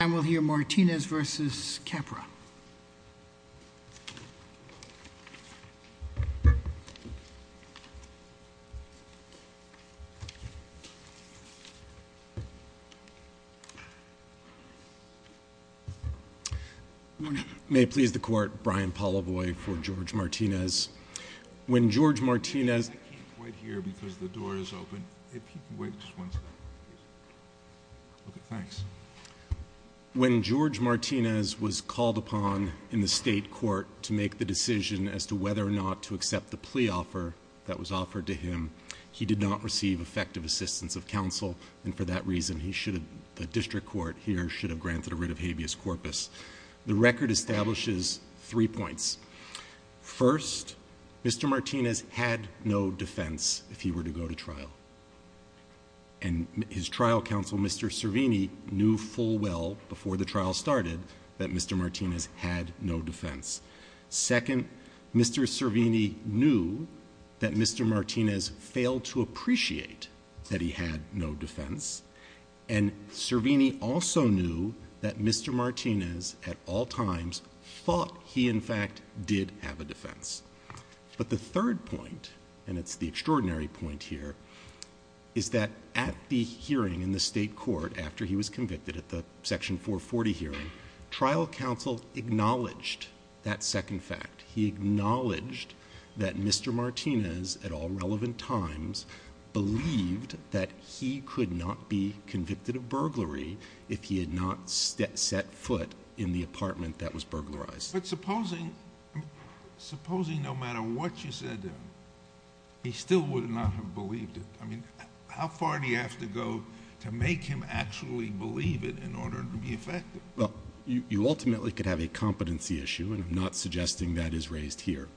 And we'll hear Martinez v. Capra. May it please the court, Brian Pollavoy for George Martinez. When George Martinez... I can't quite hear because the door is open. If you could wait just one second, please. Okay, thanks. When George Martinez was called upon in the state court to make the decision as to whether or not to accept the plea offer that was offered to him, he did not receive effective assistance of counsel. And for that reason, the district court here should have granted a writ of habeas corpus. The record establishes three points. First, Mr. Martinez had no defense if he were to go to trial. And his trial counsel, Mr. Servini, knew full well before the trial started that Mr. Martinez had no defense. Second, Mr. Servini knew that Mr. Martinez failed to appreciate that he had no defense. And Servini also knew that Mr. Martinez at all times thought he in fact did have a defense. But the third point, and it's the extraordinary point here, is that at the hearing in the state court, after he was convicted at the section 440 hearing, trial counsel acknowledged that second fact. He acknowledged that Mr. Martinez at all relevant times believed that he could not be convicted of burglary if he had not set foot in the apartment that was burglarized. But supposing no matter what you said, he still would not have believed it. I mean, how far do you have to go to make him actually believe it in order to be effective? Well, you ultimately could have a competency issue, and I'm not suggesting that is raised here.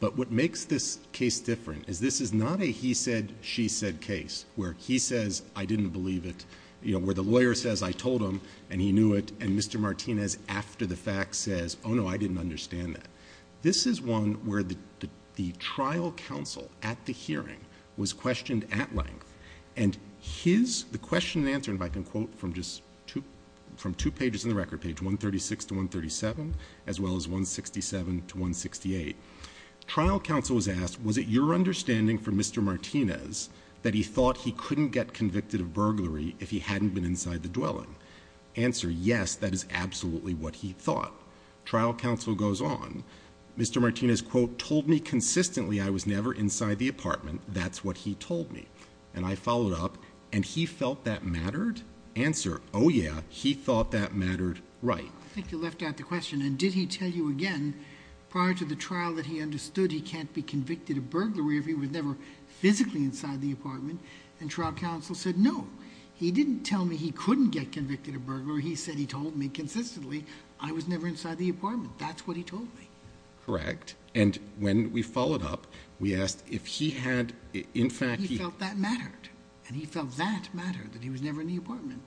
But what makes this case different is this is not a he said, she said case where he says I didn't believe it, where the lawyer says I told him and he knew it, and Mr. Martinez after the fact says, oh, no, I didn't understand that. This is one where the trial counsel at the hearing was questioned at length, and his, the question and answer, and if I can quote from just two pages in the record, page 136 to 137, as well as 167 to 168, trial counsel was asked, was it your understanding from Mr. Martinez that he thought he couldn't get convicted of burglary if he hadn't been inside the dwelling? Answer, yes, that is absolutely what he thought. Trial counsel goes on. Mr. Martinez, quote, told me consistently I was never inside the apartment. That's what he told me. And I followed up, and he felt that mattered? Answer, oh, yeah, he thought that mattered right. I think you left out the question, and did he tell you again prior to the trial that he understood he can't be convicted of burglary if he was never physically inside the apartment? And trial counsel said, no, he didn't tell me he couldn't get convicted of burglary. He said he told me consistently I was never inside the apartment. That's what he told me. Correct. And when we followed up, we asked if he had, in fact, he felt that mattered, and he felt that mattered, that he was never in the apartment.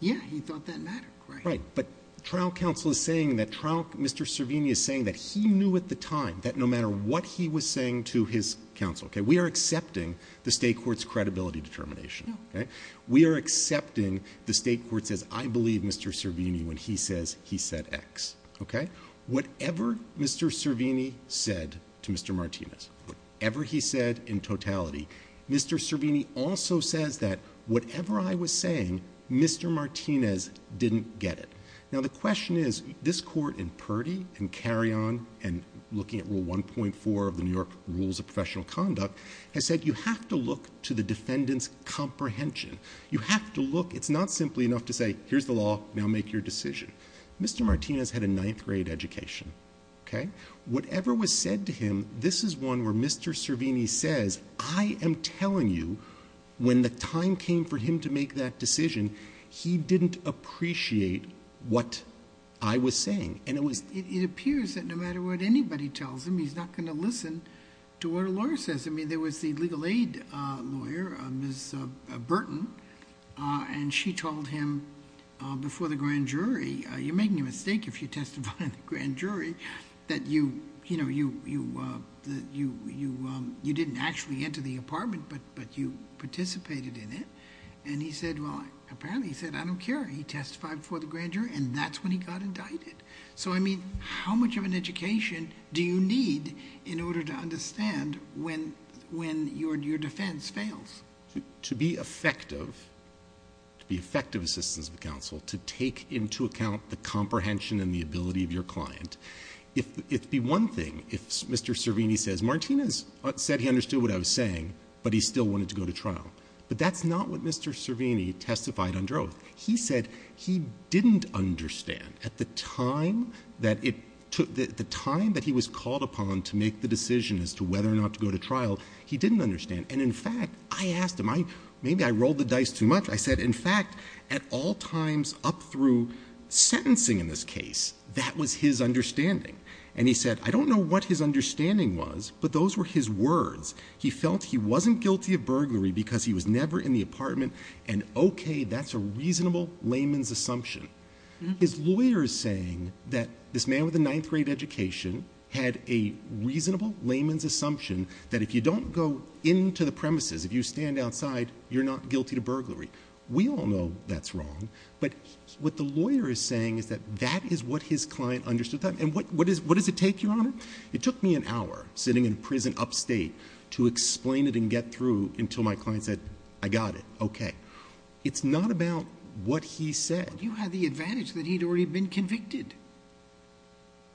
Yeah, he thought that mattered. Right, but trial counsel is saying that trial Mr. Servini is saying that he knew at the time that no matter what he was saying to his counsel, okay, we are accepting the state court's credibility determination. We are accepting the state court says I believe Mr. Servini when he says he said X. Okay? Whatever Mr. Servini said to Mr. Martinez, whatever he said in totality, Mr. Servini also says that whatever I was saying, Mr. Martinez didn't get it. Now, the question is this court in Purdy and Carrion and looking at Rule 1.4 of the New York Rules of Professional Conduct has said you have to look to the defendant's comprehension. You have to look. It's not simply enough to say here's the law. Now make your decision. Mr. Martinez had a ninth-grade education. Okay? Whatever was said to him, this is one where Mr. Servini says I am telling you when the time came for him to make that decision, he didn't appreciate what I was saying. It appears that no matter what anybody tells him, he's not going to listen to what a lawyer says. I mean, there was the legal aid lawyer, Ms. Burton, and she told him before the grand jury, you're making a mistake if you testify in the grand jury, that you didn't actually enter the apartment, but you participated in it. And he said, well, apparently he said I don't care. He testified before the grand jury, and that's when he got indicted. So, I mean, how much of an education do you need in order to understand when your defense fails? To be effective, to be effective assistants of counsel, to take into account the comprehension and the ability of your client, it would be one thing if Mr. Servini says, Martinez said he understood what I was saying, but he still wanted to go to trial. But that's not what Mr. Servini testified under oath. He said he didn't understand at the time that it took, the time that he was called upon to make the decision as to whether or not to go to trial, he didn't understand. And, in fact, I asked him, maybe I rolled the dice too much. I said, in fact, at all times up through sentencing in this case, that was his understanding. And he said, I don't know what his understanding was, but those were his words. He felt he wasn't guilty of burglary because he was never in the apartment, and, okay, that's a reasonable layman's assumption. His lawyer is saying that this man with a ninth grade education had a reasonable layman's assumption that if you don't go into the premises, if you stand outside, you're not guilty of burglary. We all know that's wrong, but what the lawyer is saying is that that is what his client understood. And what does it take, Your Honor? It took me an hour sitting in prison upstate to explain it and get through until my client said, I got it, okay. It's not about what he said. You had the advantage that he'd already been convicted.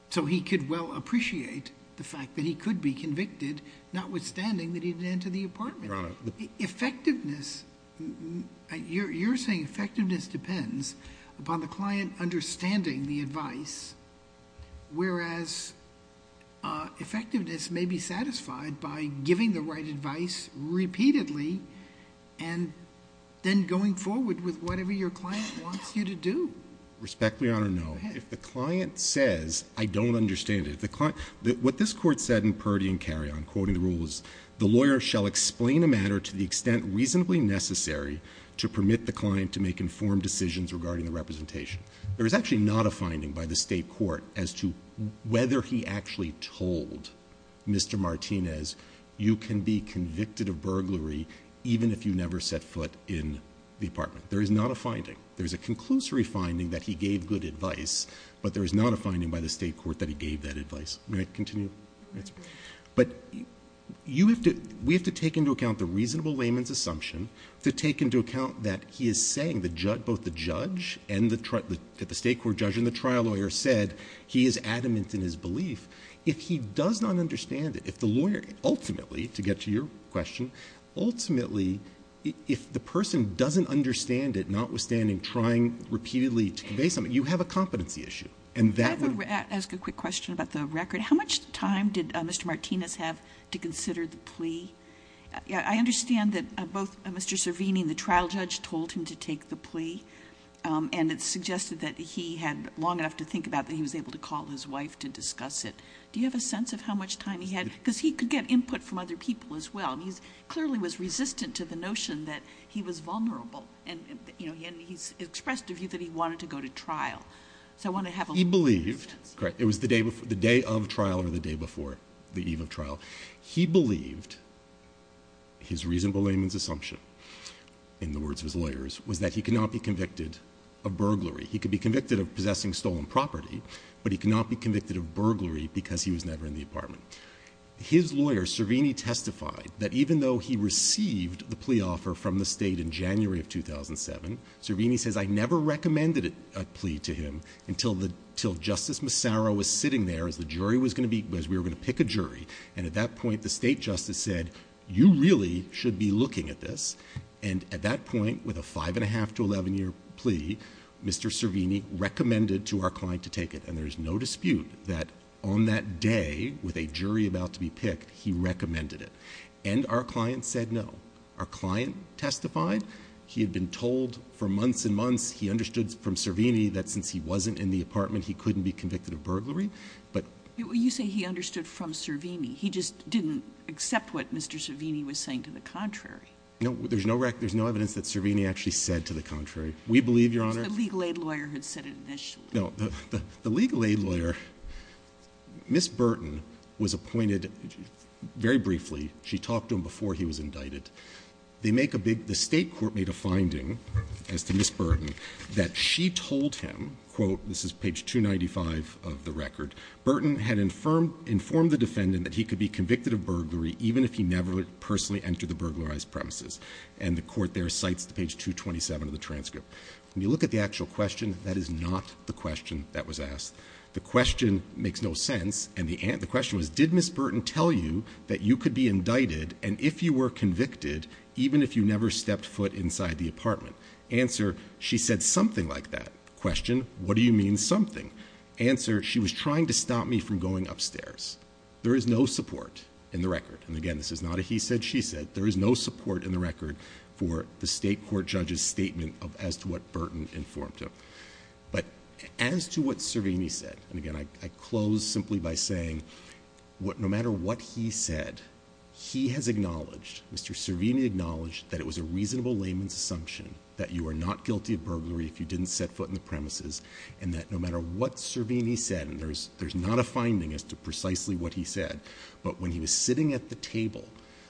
So he could well appreciate the fact that he could be convicted, notwithstanding that he didn't enter the apartment. Your Honor. Effectiveness, you're saying effectiveness depends upon the client understanding the advice, whereas effectiveness may be satisfied by giving the right advice repeatedly and then going forward with whatever your client wants you to do. Respectfully, Your Honor, no. If the client says, I don't understand it. What this court said in Purdy and Carrion, quoting the rules, the lawyer shall explain a matter to the extent reasonably necessary to permit the client to make informed decisions regarding the representation. There is actually not a finding by the State court as to whether he actually told Mr. Martinez, you can be convicted of burglary even if you never set foot in the apartment. There is not a finding. There is a conclusory finding that he gave good advice, but there is not a finding by the State court that he gave that advice. May I continue? Yes, sir. But you have to – we have to take into account the reasonable layman's assumption to take into account that he is saying both the judge and the State court judge and the trial lawyer said he is adamant in his belief. If he does not understand it, if the lawyer ultimately, to get to your question, ultimately if the person doesn't understand it, notwithstanding trying repeatedly to convey something, you have a competency issue. And that would – Can I ask a quick question about the record? How much time did Mr. Martinez have to consider the plea? I understand that both Mr. Cervini and the trial judge told him to take the plea and it suggested that he had long enough to think about that he was able to call his wife to discuss it. Do you have a sense of how much time he had? Because he could get input from other people as well. He clearly was resistant to the notion that he was vulnerable and he expressed a view that he wanted to go to trial. So I want to have a little bit of that sense. He believed – correct. It was the day of trial or the day before the eve of trial. He believed – his reasonable layman's assumption in the words of his lawyers was that he could not be convicted of burglary. He could be convicted of possessing stolen property, but he could not be convicted of burglary because he was never in the apartment. His lawyer, Cervini, testified that even though he received the plea offer from the state in January of 2007, Cervini says, I never recommended a plea to him until Justice Massaro was sitting there as the jury was going to be – as we were going to pick a jury. And at that point, the state justice said, you really should be looking at this. And at that point, with a five-and-a-half to 11-year plea, Mr. Cervini recommended to our client to take it. And there is no dispute that on that day, with a jury about to be picked, he recommended it. And our client said no. Our client testified. He had been told for months and months. He understood from Cervini that since he wasn't in the apartment, he couldn't be convicted of burglary. But – You say he understood from Cervini. He just didn't accept what Mr. Cervini was saying to the contrary. No, there's no evidence that Cervini actually said to the contrary. We believe, Your Honor – Because the legal aid lawyer had said it initially. No, the legal aid lawyer, Ms. Burton, was appointed very briefly. She talked to him before he was indicted. They make a big – the state court made a finding as to Ms. Burton that she told him, quote, this is page 295 of the record, Burton had informed the defendant that he could be convicted of burglary even if he never personally entered the burglarized premises. And the court there cites page 227 of the transcript. When you look at the actual question, that is not the question that was asked. The question makes no sense. And the question was, did Ms. Burton tell you that you could be indicted, and if you were convicted, even if you never stepped foot inside the apartment? Answer, she said something like that. Question, what do you mean something? Answer, she was trying to stop me from going upstairs. There is no support in the record. And again, this is not a he said, she said. There is no support in the record for the state court judge's statement as to what Burton informed him. But as to what Cervini said, and again, I close simply by saying, no matter what he said, he has acknowledged, Mr. Cervini acknowledged, that it was a reasonable layman's assumption that you are not guilty of burglary if you didn't set foot in the premises, and that no matter what Cervini said, and there's not a finding as to precisely what he said, but when he was sitting at the table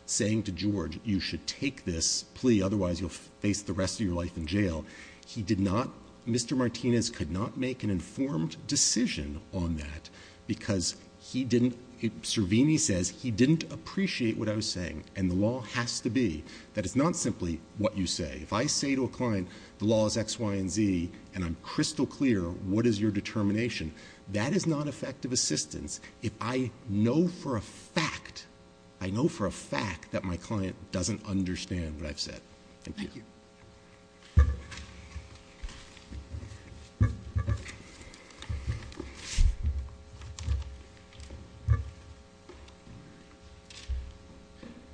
saying to George, you should take this plea, otherwise you'll face the rest of your life in jail, he did not, Mr. Martinez could not make an informed decision on that because he didn't, Cervini says, he didn't appreciate what I was saying. And the law has to be that it's not simply what you say. If I say to a client, the law is X, Y, and Z, and I'm crystal clear what is your determination, that is not effective assistance if I know for a fact, I know for a fact that my client doesn't understand what I've said. Thank you. Thank you.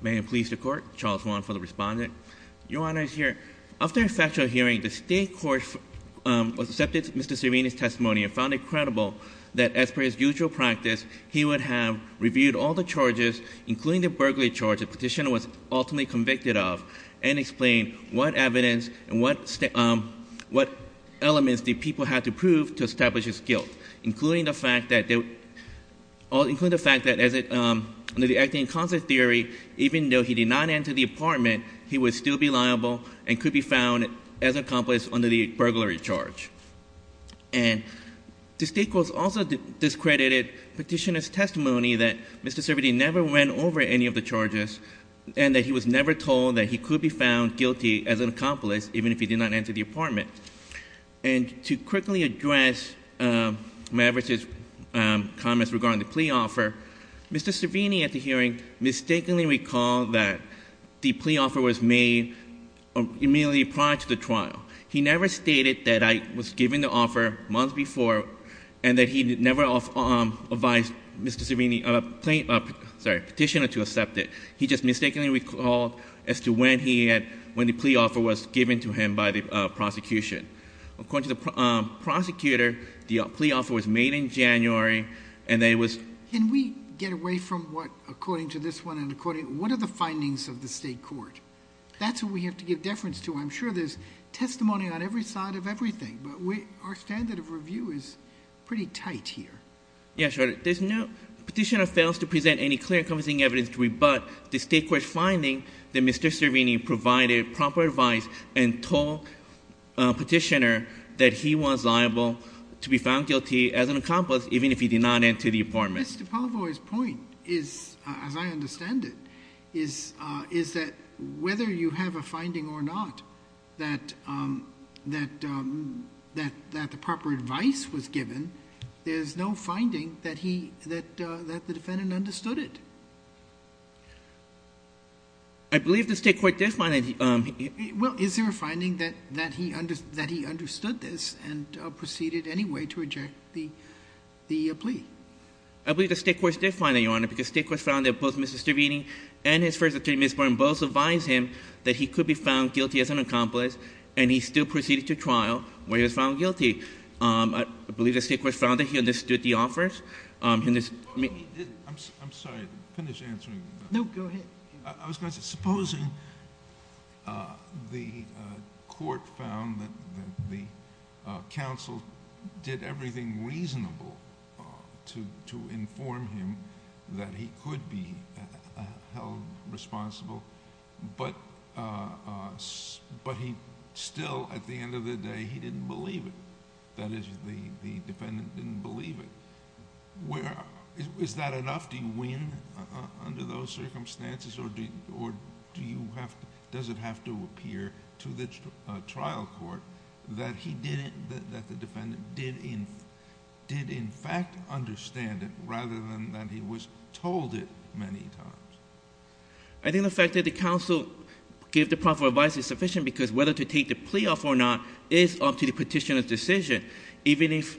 May it please the Court, Charles Wong for the respondent. Your Honor is here. After a factual hearing, the state court accepted Mr. Cervini's testimony and found it credible that as per his usual practice, he would have reviewed all the charges, including the burglary charge, which the petitioner was ultimately convicted of, and explained what evidence and what elements the people had to prove to establish his guilt, including the fact that under the acting in concert theory, even though he did not enter the apartment, he would still be liable and could be found as an accomplice under the burglary charge. Mr. Cervini never went over any of the charges, and that he was never told that he could be found guilty as an accomplice, even if he did not enter the apartment. And to quickly address Maverick's comments regarding the plea offer, Mr. Cervini at the hearing mistakenly recalled that the plea offer was made immediately prior to the trial. He never stated that I was given the offer months before, and that he never advised Mr. Cervini, sorry, petitioner to accept it. He just mistakenly recalled as to when he had, when the plea offer was given to him by the prosecution. According to the prosecutor, the plea offer was made in January, and it was... Can we get away from what, according to this one and according, what are the findings of the state court? That's what we have to give deference to. I'm sure there's testimony on every side of everything, but our standard of review is pretty tight here. Yeah, sure. There's no, petitioner fails to present any clear encompassing evidence to rebut the state court's finding that Mr. Cervini provided proper advice and told petitioner that he was liable to be found guilty as an accomplice, even if he did not enter the apartment. Mr. Pavlo's point is, as I understand it, is that whether you have a finding or not that the proper advice was given, there's no finding that the defendant understood it. I believe the state court did find that he... Well, is there a finding that he understood this and proceeded anyway to reject the plea? Because the state court found that both Mr. Cervini and his first attorney, Ms. Boren, both advised him that he could be found guilty as an accomplice, and he still proceeded to trial where he was found guilty. I believe the state court found that he understood the offers. I'm sorry. Finish answering. No, go ahead. I was going to say, supposing the court found that the counsel did everything reasonable to inform him that he could be held responsible, but he still, at the end of the day, he didn't believe it. That is, the defendant didn't believe it. Is that enough? Do you win under those circumstances, or does it have to appear to the trial court that the defendant did in fact understand it rather than that he was told it many times? I think the fact that the counsel gave the proper advice is sufficient because whether to take the plea off or not is up to the petitioner's decision. Even if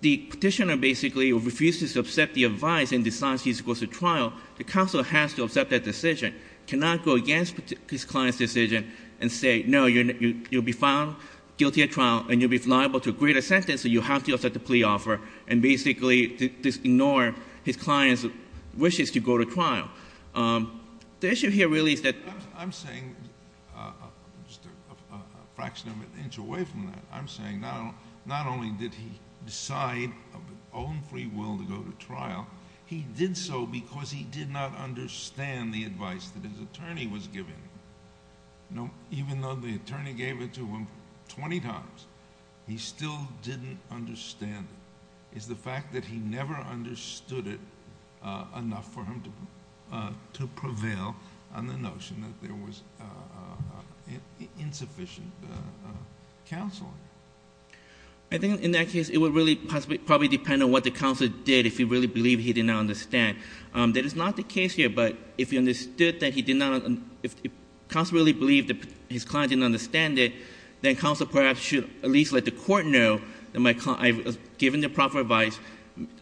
the petitioner basically refuses to accept the advice and decides he's going to trial, the counsel has to accept that decision. He cannot go against his client's decision and say, no, you'll be found guilty at trial and you'll be liable to a greater sentence, so you have to accept the plea offer and basically just ignore his client's wishes to go to trial. The issue here really is that... I'm saying, just a fraction of an inch away from that, I'm saying not only did he decide of his own free will to go to trial, he did so because he did not understand the advice that his attorney was giving him. Even though the attorney gave it to him 20 times, he still didn't understand it. It's the fact that he never understood it enough for him to prevail on the notion that there was insufficient counseling. I think in that case it would really probably depend on what the counsel did if he really believed he did not understand. That is not the case here, but if he understood that he did not... if counsel really believed that his client didn't understand it, then counsel perhaps should at least let the court know that my client... I've given the proper advice,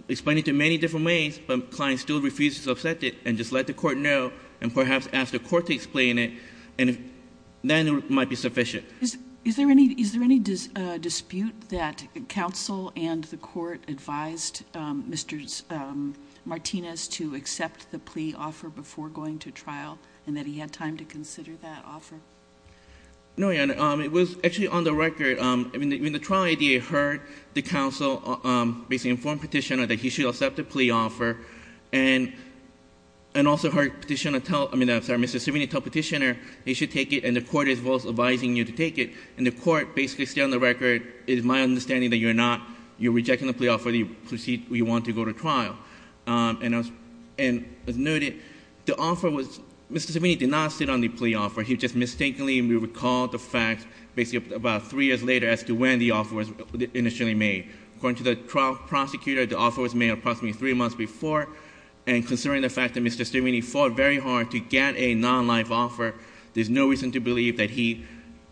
explained it in many different ways, but the client still refuses to accept it, and just let the court know and perhaps ask the court to explain it, and then it might be sufficient. Is there any dispute that counsel and the court advised Mr. Martinez to accept the plea offer before going to trial, and that he had time to consider that offer? No, Your Honor. It was actually on the record. When the trial ADA heard the counsel basically inform Petitioner that he should accept the plea offer, and also heard Petitioner tell... I'm sorry, Mr. Simonyi tell Petitioner he should take it, and the court is both advising you to take it, and the court basically said on the record, it is my understanding that you're not... you're rejecting the plea offer. You want to go to trial. And as noted, the offer was... Mr. Simonyi did not sit on the plea offer. He just mistakenly recalled the fact basically about three years later as to when the offer was initially made. According to the trial prosecutor, the offer was made approximately three months before, and considering the fact that Mr. Simonyi fought very hard to get a non-life offer, there's no reason to believe that he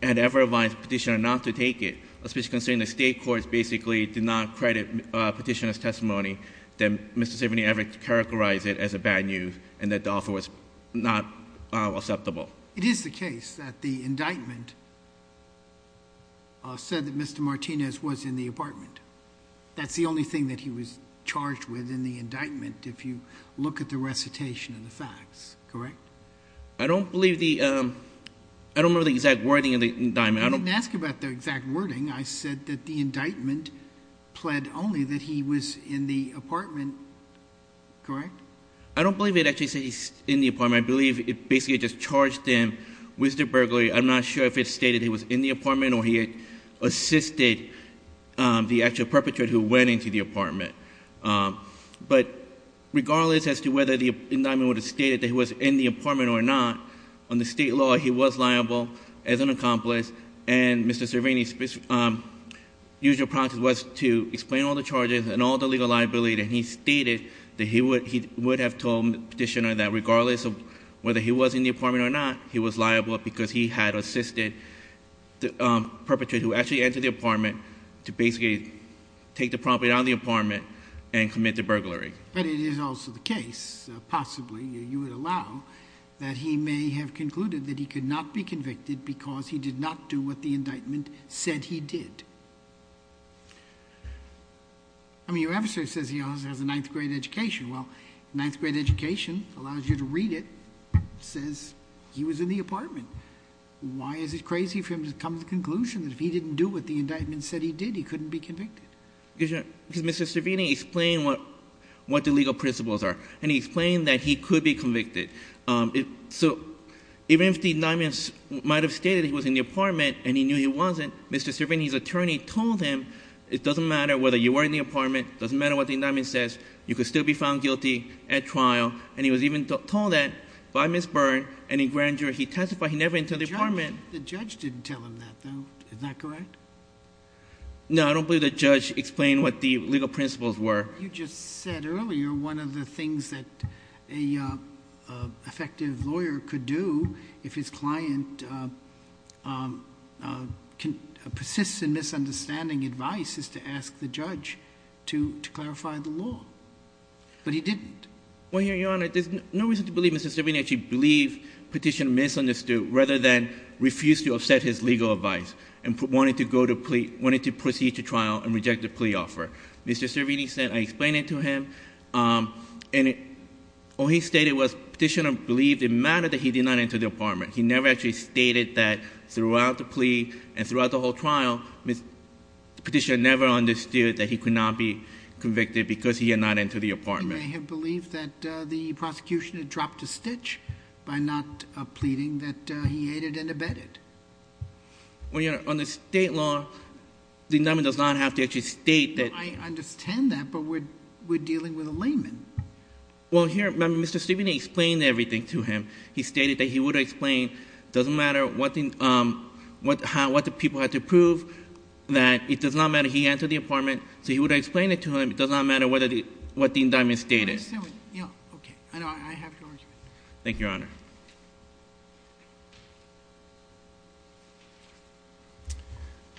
had ever advised Petitioner not to take it, especially considering the state courts basically did not credit Petitioner's testimony that Mr. Simonyi ever characterized it as a bad news, and that the offer was not acceptable. It is the case that the indictment said that Mr. Martinez was in the apartment. That's the only thing that he was charged with in the indictment, if you look at the recitation of the facts, correct? I don't believe the—I don't remember the exact wording of the indictment. You didn't ask about the exact wording. I said that the indictment pled only that he was in the apartment, correct? I don't believe it actually said he was in the apartment. I believe it basically just charged him with the burglary. I'm not sure if it stated he was in the apartment But regardless as to whether the indictment would have stated that he was in the apartment or not, under state law he was liable as an accomplice, and Mr. Servini's usual practice was to explain all the charges and all the legal liability, and he stated that he would have told Petitioner that regardless of whether he was in the apartment or not, he was liable because he had assisted the perpetrator who actually entered the apartment to basically take the property out of the apartment and commit the burglary. But it is also the case, possibly you would allow, that he may have concluded that he could not be convicted because he did not do what the indictment said he did. I mean your episode says he has a ninth-grade education. Well, ninth-grade education allows you to read it. It says he was in the apartment. Why is it crazy for him to come to the conclusion that if he didn't do what the indictment said he did, he couldn't be convicted? Because Mr. Servini explained what the legal principles are, and he explained that he could be convicted. So even if the indictment might have stated he was in the apartment and he knew he wasn't, Mr. Servini's attorney told him it doesn't matter whether you were in the apartment, it doesn't matter what the indictment says, you could still be found guilty at trial, and he was even told that by Ms. Byrne, and in grandeur, he testified he never entered the apartment. The judge didn't tell him that though, is that correct? No, I don't believe the judge explained what the legal principles were. You just said earlier one of the things that an effective lawyer could do if his client persists in misunderstanding advice is to ask the judge to clarify the law, but he didn't. Well, Your Honor, there's no reason to believe Mr. Servini actually believed Petitioner misunderstood rather than refused to accept his legal advice and wanted to proceed to trial and reject the plea offer. Mr. Servini said, I explained it to him, and all he stated was Petitioner believed it mattered that he did not enter the apartment. He never actually stated that throughout the plea and throughout the whole trial, Petitioner never understood that he could not be convicted because he did not enter the apartment. Your Honor, you may have believed that the prosecution had dropped a stitch by not pleading that he aided and abetted. Well, Your Honor, under State law, the indictment does not have to actually state that. I understand that, but we're dealing with a layman. Well, here, Mr. Servini explained everything to him. He stated that he would explain, doesn't matter what the people had to prove, that it does not matter he entered the apartment, so he would explain it to him. It does not matter what the indictment stated. I understand. Yeah, okay. I have your argument. Thank you, Your Honor.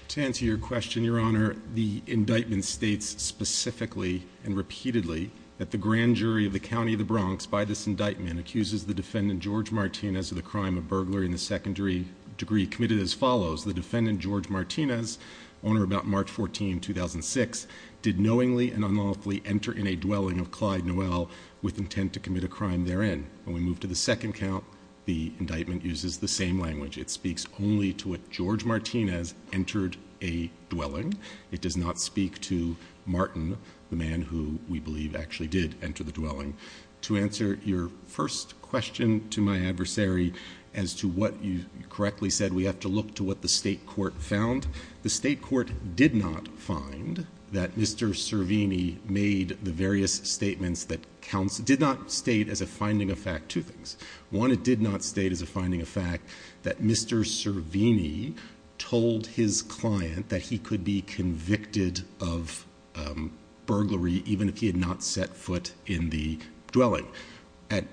To answer your question, Your Honor, the indictment states specifically and repeatedly that the grand jury of the County of the Bronx, by this indictment, accuses the defendant, George Martinez, of the crime of burglary in the secondary degree committed as follows. The defendant, George Martinez, owner about March 14, 2006, did knowingly and unlawfully enter in a dwelling of Clyde Noel with intent to commit a crime therein. When we move to the second count, the indictment uses the same language. It speaks only to what George Martinez entered a dwelling. It does not speak to Martin, the man who we believe actually did enter the dwelling. To answer your first question to my adversary as to what you correctly said, we have to look to what the state court found. The state court did not find that Mr. Servini made the various statements that counts. It did not state as a finding of fact two things. One, it did not state as a finding of fact that Mr. Servini told his client that he could be convicted of burglary, even if he had not set foot in the dwelling. At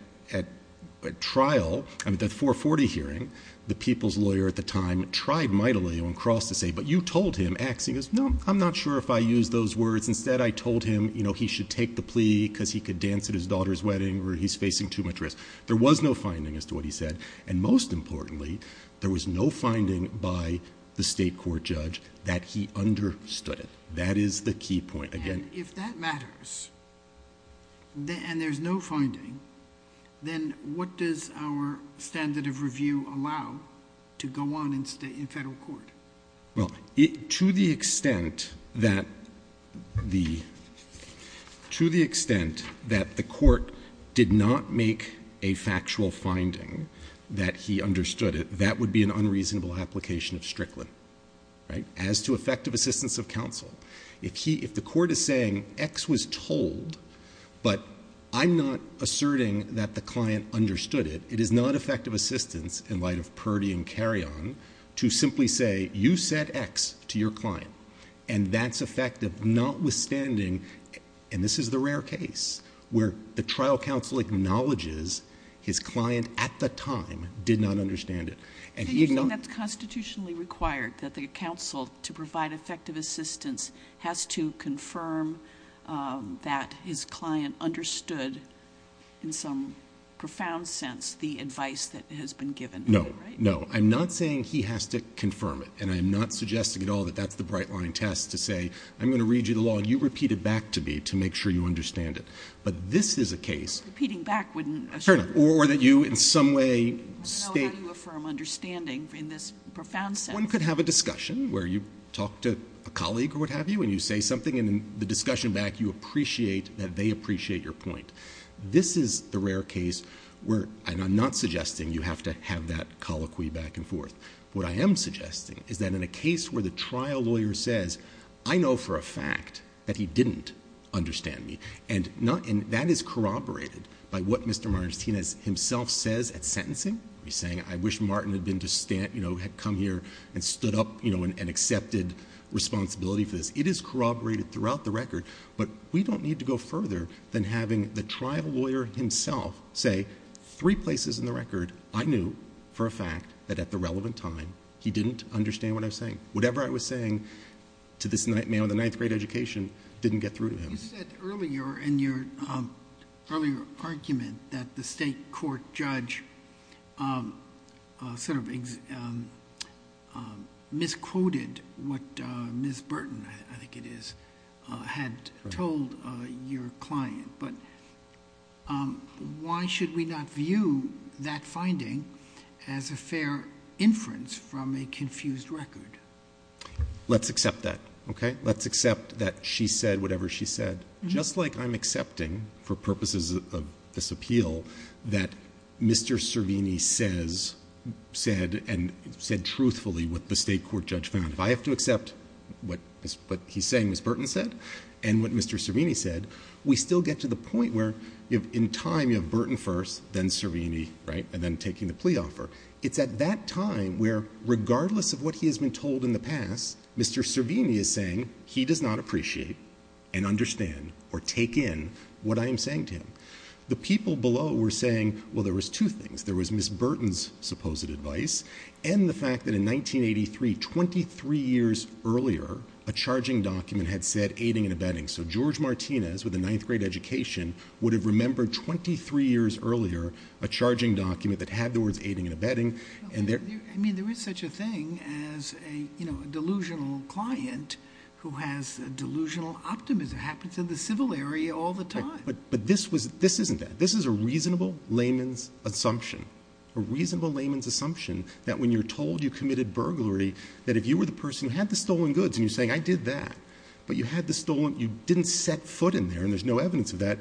trial, at the 440 hearing, the people's lawyer at the time tried mightily on cross to say, but you told him, axing us. No, I'm not sure if I used those words. Instead, I told him, you know, he should take the plea because he could dance at his daughter's wedding or he's facing too much risk. There was no finding as to what he said. And most importantly, there was no finding by the state court judge that he understood it. That is the key point. And if that matters, and there's no finding, then what does our standard of review allow to go on in Federal court? Well, to the extent that the court did not make a factual finding that he understood it, that would be an unreasonable application of Strickland, right, as to effective assistance of counsel. If he, if the court is saying X was told, but I'm not asserting that the client understood it, it is not effective assistance in light of Purdy and Carrion to simply say, you said X to your client and that's effective, notwithstanding, and this is the rare case where the trial counsel acknowledges his client at the time did not understand it. And he acknowledged. Is it constitutionally required that the counsel to provide effective assistance has to confirm that his client understood in some profound sense the advice that has been given? No. No, I'm not saying he has to confirm it. And I'm not suggesting at all that that's the bright line test to say, I'm going to read you the law and you repeat it back to me to make sure you understand it. But this is a case. Repeating back wouldn't assure. Or that you in some way state. How do you affirm understanding in this profound sense? One could have a discussion where you talk to a colleague or what have you and you say something and in the discussion back you appreciate that they appreciate your point. This is the rare case where, and I'm not suggesting you have to have that colloquy back and forth. What I am suggesting is that in a case where the trial lawyer says, I know for a fact that he didn't understand me, and that is corroborated by what Mr. Martinez himself says at sentencing. He's saying, I wish Martin had come here and stood up and accepted responsibility for this. It is corroborated throughout the record. But we don't need to go further than having the trial lawyer himself say three places in the record, I knew for a fact that at the relevant time he didn't understand what I was saying. Whatever I was saying to this man with a ninth grade education didn't get through to him. You said earlier in your earlier argument that the state court judge sort of misquoted what Ms. Burton, I think it is, had told your client. But why should we not view that finding as a fair inference from a confused record? Let's accept that, okay? Let's accept that she said whatever she said. Just like I'm accepting for purposes of this appeal that Mr. Servini says, said, and said truthfully what the state court judge found. If I have to accept what he is saying Ms. Burton said and what Mr. Servini said, we still get to the point where in time you have Burton first, then Servini, right, and then taking the plea offer. It's at that time where regardless of what he has been told in the past, Mr. Servini is saying he does not appreciate and understand or take in what I am saying to him. The people below were saying, well, there was two things. There was Ms. Burton's supposed advice and the fact that in 1983, 23 years earlier, a charging document had said aiding and abetting. So George Martinez with a ninth grade education would have remembered 23 years earlier a charging document that had the words aiding and abetting. I mean, there is such a thing as a delusional client who has delusional optimism. It happens in the civil area all the time. But this isn't that. This is a reasonable layman's assumption. A reasonable layman's assumption that when you're told you committed burglary, that if you were the person who had the stolen goods and you're saying I did that, but you had the stolen, you didn't set foot in there and there's no evidence of that,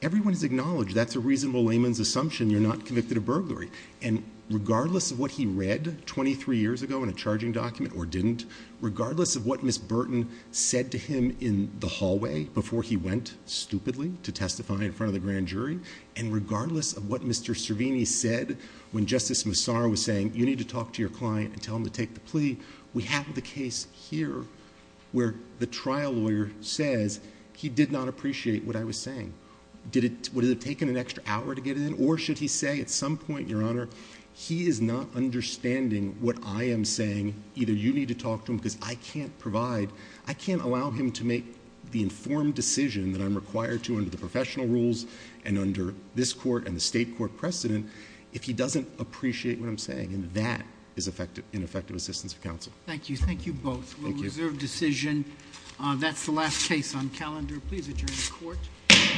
everyone is acknowledged that's a reasonable layman's assumption you're not convicted of burglary. And regardless of what he read 23 years ago in a charging document or didn't, regardless of what Ms. Burton said to him in the hallway before he went stupidly to testify in front of the grand jury, and regardless of what Mr. Servini said when Justice Massar was saying you need to talk to your client and tell him to take the plea, we have the case here where the trial lawyer says he did not appreciate what I was saying. Would it have taken an extra hour to get it in? Or should he say at some point, Your Honor, he is not understanding what I am saying, either you need to talk to him because I can't provide, I can't allow him to make the informed decision that I'm required to under the professional rules and under this court and the state court precedent if he doesn't appreciate what I'm saying. And that is ineffective assistance of counsel. Thank you. Thank you both. Thank you. We'll reserve decision. That's the last case on calendar. Please adjourn the court.